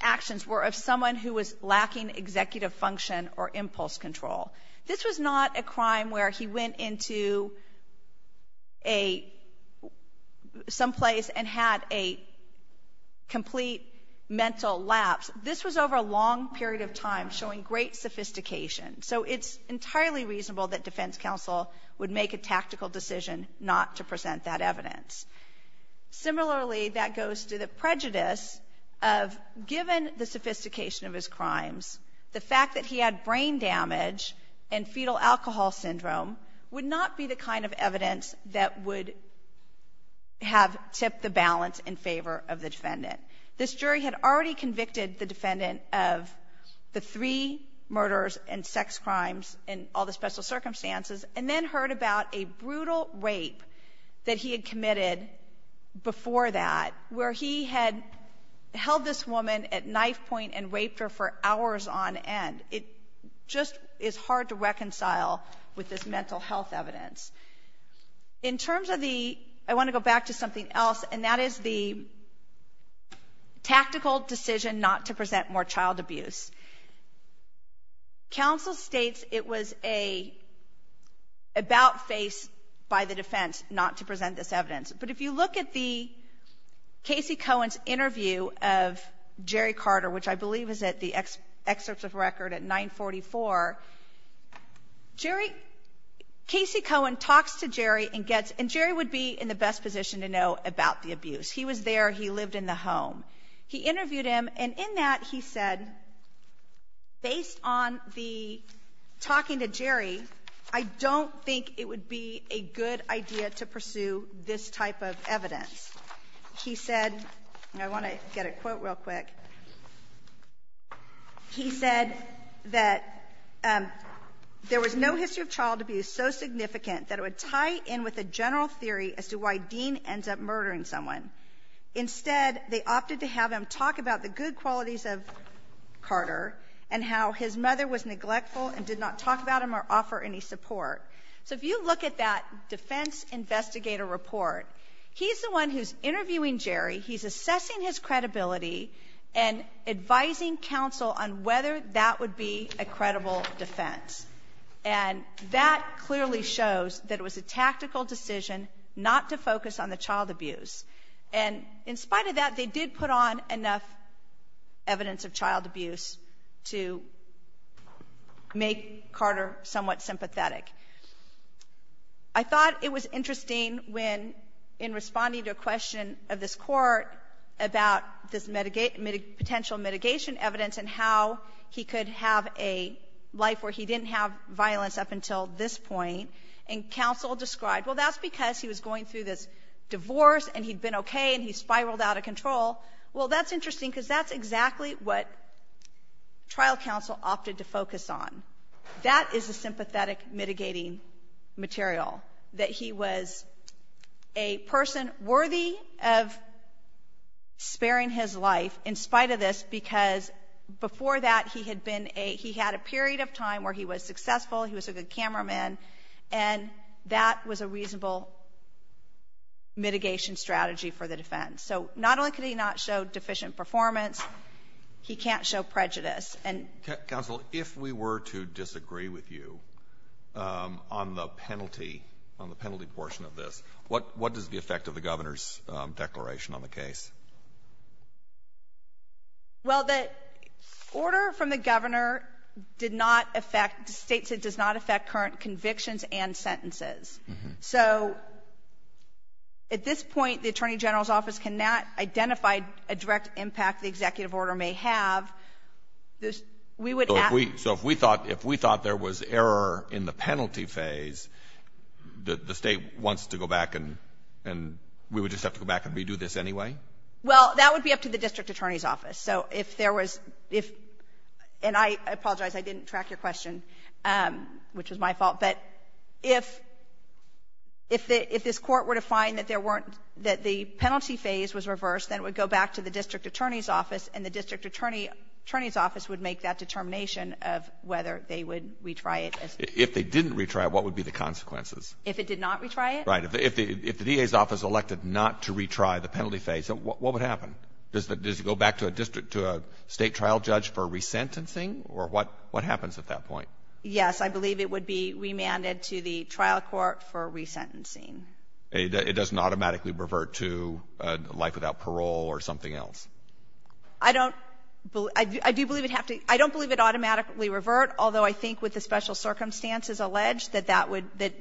actions were of someone who was lacking executive function or impulse control. This was not a crime where he went into a, someplace and had a complete mental lapse. This was over a long period of time showing great sophistication. So it's entirely reasonable that defense counsel would make a tactical decision not to present that evidence. Similarly, that goes to the prejudice of given the sophistication of his crimes, the fact that he had brain damage and fetal alcohol syndrome would not be the kind of evidence that would have tipped the balance in favor of the defendant. This jury had already convicted the defendant of the three murders and sex crimes and all the special circumstances, and then heard about a brutal rape that he had committed before that, where he had held this woman at knife point and raped her for hours on end. It just is hard to reconcile with this mental health evidence. In terms of the, I want to go back to something else, and that is the tactical decision not to present more child abuse. Counsel states it was a about face by the defense not to present this evidence. But if you look at the Casey Cohen's interview of Jerry Carter, which I believe is at the Excerpts of Record at 944, Jerry, Casey Cohen talks to Jerry and gets, and Jerry would be in the best position to know about the abuse. He was there. He lived in the home. He interviewed him, and in that he said, based on the talking to Jerry, I don't think it would be a good idea to pursue this type of evidence. He said, and I want to get a quote real quick, he said that there was no history of child abuse so significant that it would tie in with the general theory as to why Dean ends up murdering someone. Instead, they opted to have him talk about the good qualities of Carter and how his mother was neglectful and did not talk about him or offer any support. So if you look at that defense investigator report, he's the one who's interviewing Jerry. He's assessing his credibility and advising counsel on whether that would be a credible defense. And that clearly shows that it was a tactical decision not to focus on the child abuse. And in spite of that, they did put on enough evidence of child abuse to make Carter somewhat sympathetic. I thought it was interesting when, in responding to a question of this Court about this potential mitigation evidence and how he could have a life where he didn't have violence up until this point, and counsel described, well, that's because he was going through this divorce and he'd been okay and he spiraled out of control. Well, that's interesting, because that's exactly what trial counsel opted to focus on. That is a sympathetic mitigating material, that he was a person worthy of sparing his life in spite of this, because before that, he had been a — he had a period of time where he was successful, he was a good cameraman, and that was a reasonable mitigation strategy for the defense. So not only could he not show deficient performance, he can't show prejudice. And — Counsel, if we were to disagree with you on the penalty, on the penalty portion of this, what — what is the effect of the governor's declaration on the case? Well, the order from the governor did not affect — states it does not affect current convictions and sentences. So at this point, the Attorney General's office cannot identify a direct impact the executive order may have. We would — So if we — so if we thought — if we thought there was error in the penalty phase, the State wants to go back and — and we would just have to go back and redo this anyway? Well, that would be up to the district attorney's office. So if there was — if — and I apologize, I didn't track your question, which was my fault. But if — if this court were to find that there weren't — that the penalty phase was reversed, then it would go back to the district attorney's office, and the district attorney's office would make that determination of whether they would retry it. If they didn't retry it, what would be the consequences? If it did not retry it? Right. If the DA's office elected not to retry the penalty phase, what would happen? Does it go back to a district — to a State trial judge for resentencing? Or what — what happens at that point? Yes. I believe it would be remanded to the trial court for resentencing. It doesn't automatically revert to a life without parole or something else? I don't — I do believe it have to — I don't believe it automatically revert, although I think with the special circumstances alleged, that that would — that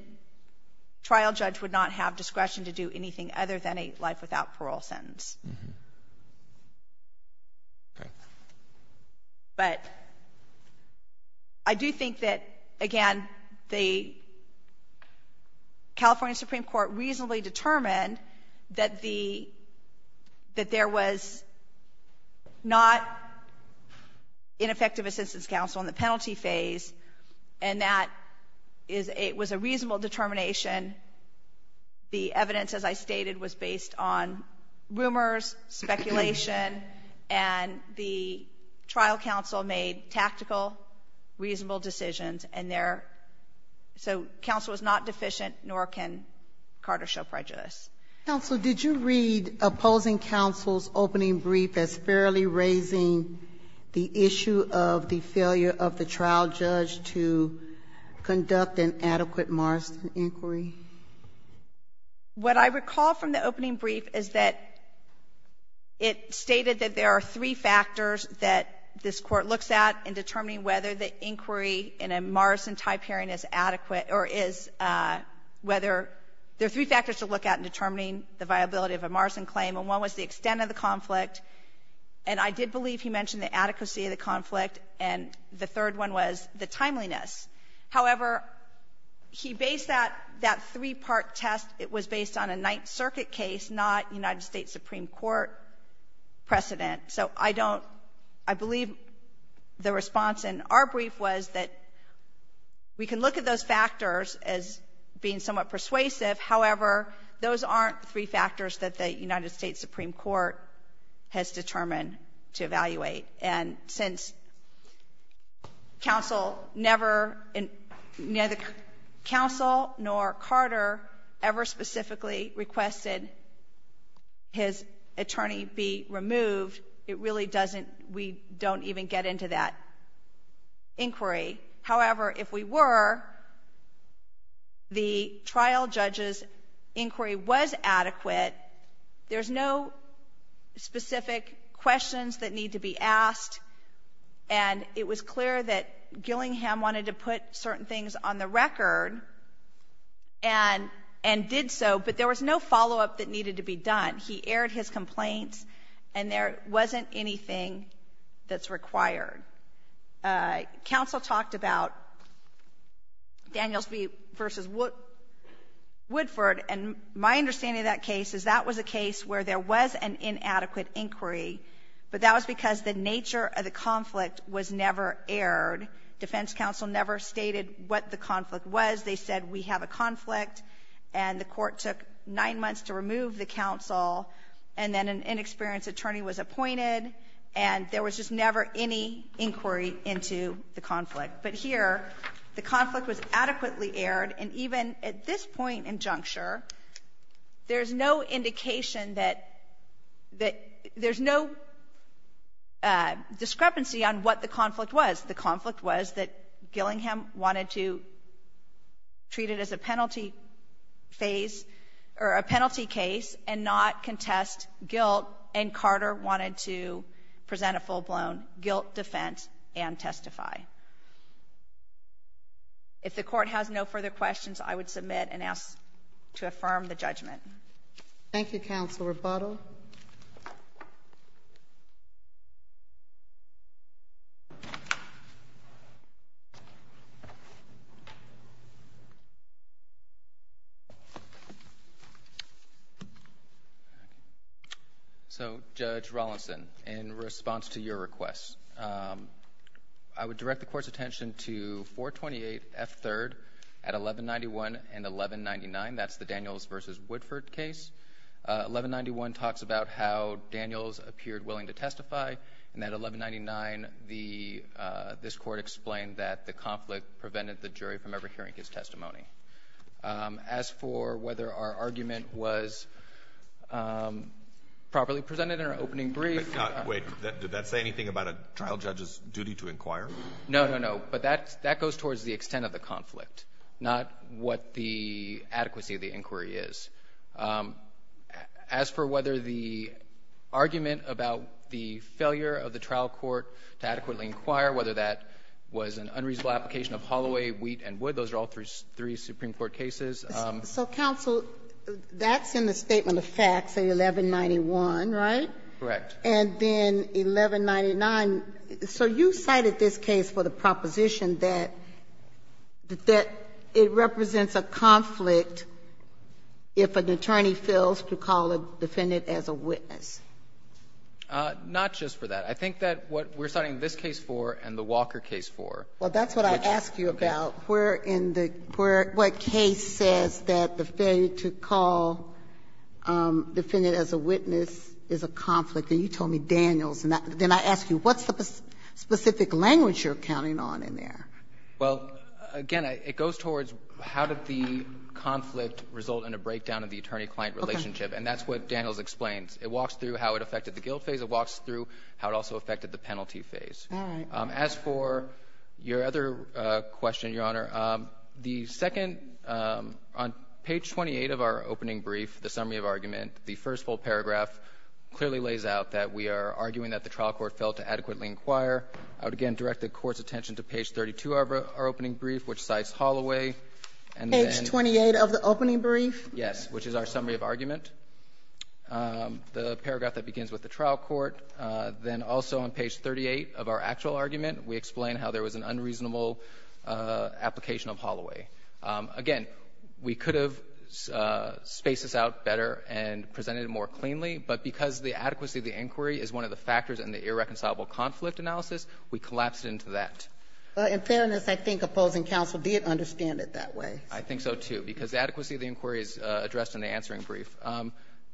trial judge would not have discretion to do anything other than a life without parole sentence. Mm-hmm. Okay. But I do think that, again, the California Supreme Court reasonably determined that the — that there was not ineffective assistance counsel in the penalty phase, and that is — it was a reasonable determination. The evidence, as I stated, was based on rumors, speculation, and the trial counsel made tactical, reasonable decisions, and there — so counsel was not deficient, nor can Carter show prejudice. Counsel, did you read opposing counsel's opening brief as fairly raising the issue of the failure of the trial judge to conduct an adequate Morrison inquiry? What I recall from the opening brief is that it stated that there are three factors that this Court looks at in determining whether the inquiry in a Morrison-type hearing is adequate or is — whether — there are three factors to look at in determining the viability of a Morrison claim, and one was the extent of the conflict, and I did believe he mentioned the adequacy of the conflict, and the third one was the timeliness. However, he based that — that three-part test, it was based on a Ninth Circuit case, not United States Supreme Court precedent. So I don't — I believe the response in our brief was that we can look at those factors as being somewhat persuasive. However, those aren't three factors that the United States Supreme Court has determined to evaluate, and since counsel never — neither counsel nor Carter ever specifically requested his attorney be removed, it really doesn't — we don't even get into that inquiry. However, if we were, the trial judge's inquiry was adequate. There's no specific questions that need to be asked, and it was clear that Gillingham wanted to put certain things on the record and — and did so, but there was no follow-up that needed to be done. He aired his complaints, and there wasn't anything that's required. Counsel talked about Daniels v. Woodford, and my understanding of that case is that was a case where there was an inadequate inquiry, but that was because the nature of the conflict was never aired. Defense counsel never stated what the conflict was. They said, we have a conflict. And the Court took nine months to remove the counsel, and then an inexperienced attorney was appointed, and there was just never any inquiry into the conflict. But here, the conflict was adequately aired, and even at this point in juncture, there's no indication that — that there's no discrepancy on what the conflict was. The conflict was that Gillingham wanted to treat it as a penalty phase — or a penalty case and not contest guilt, and Carter wanted to present a full-blown guilt defense and testify. If the Court has no further questions, I would submit and ask to affirm the judgment. Thank you, Counsel Rebuttal. So, Judge Rollinson, in response to your request, I would direct the Court's attention to 428F3rd at 1191 and 1199. That's the Daniels v. Woodford case. 1191 talks about how Daniels appeared willing to testify, and at 1199, the — this Court explained that the conflict prevented the jury from ever hearing his testimony. As for whether our argument was properly presented in our opening brief — Wait. Did that say anything about a trial judge's duty to inquire? No, no, no. But that — that goes towards the extent of the conflict, not what the adequacy of the inquiry is. As for whether the argument about the failure of the trial court to adequately inquire, whether that was an unreasonable application of Holloway, Wheat, and Wood, those are all three Supreme Court cases. So, Counsel, that's in the Statement of Facts at 1191, right? Correct. And then 1199. So you cited this case for the proposition that — that it represents a conflict if an attorney fails to call a defendant as a witness. Not just for that. I think that what we're citing this case for and the Walker case for, which — Well, that's what I asked you about. Okay. Where in the — where — what case says that the failure to call defendant as a witness is a conflict. And you told me Daniels. And then I ask you, what's the specific language you're counting on in there? Well, again, it goes towards how did the conflict result in a breakdown of the attorney-client relationship. Okay. And that's what Daniels explains. It walks through how it affected the guilt phase. It walks through how it also affected the penalty phase. All right. As for your other question, Your Honor, the second — on page 28 of our opening brief, the summary of argument, the first full paragraph clearly lays out that we are arguing that the trial court failed to adequately inquire. I would again direct the Court's attention to page 32 of our opening brief, which cites Holloway, and then — Page 28 of the opening brief? Yes, which is our summary of argument. The paragraph that begins with the trial court. Then also on page 38 of our actual argument, we explain how there was an unreasonable application of Holloway. Again, we could have spaced this out better and presented it more cleanly, but because the adequacy of the inquiry is one of the factors in the irreconcilable conflict analysis, we collapsed it into that. In fairness, I think opposing counsel did understand it that way. I think so, too, because the adequacy of the inquiry is addressed in the answering brief.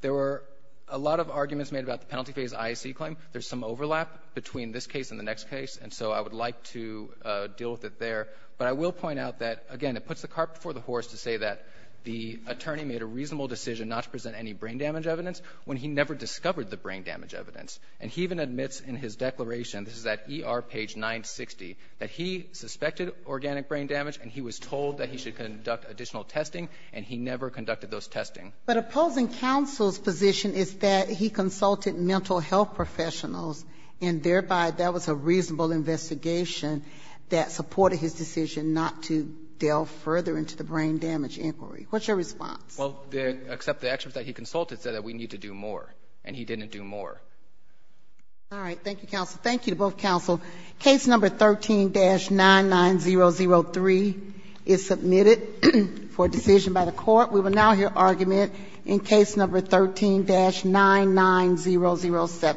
There were a lot of arguments made about the penalty phase IAC claim. There's some overlap between this case and the next case, and so I would like to deal with it there. But I will point out that, again, it puts the carpet before the horse to say that the attorney made a reasonable decision not to present any brain damage evidence when he never discovered the brain damage evidence. And he even admits in his declaration, this is at ER page 960, that he suspected organic brain damage, and he was told that he should conduct additional testing, and he never conducted those testing. But opposing counsel's position is that he consulted mental health professionals, and thereby that was a reasonable investigation that supported his decision not to delve further into the brain damage inquiry. What's your response? Well, except the experts that he consulted said that we need to do more, and he didn't do more. All right. Thank you, counsel. Thank you to both counsel. Case number 13-99003 is submitted for decision by the court. We will now hear argument in case number 13-99007.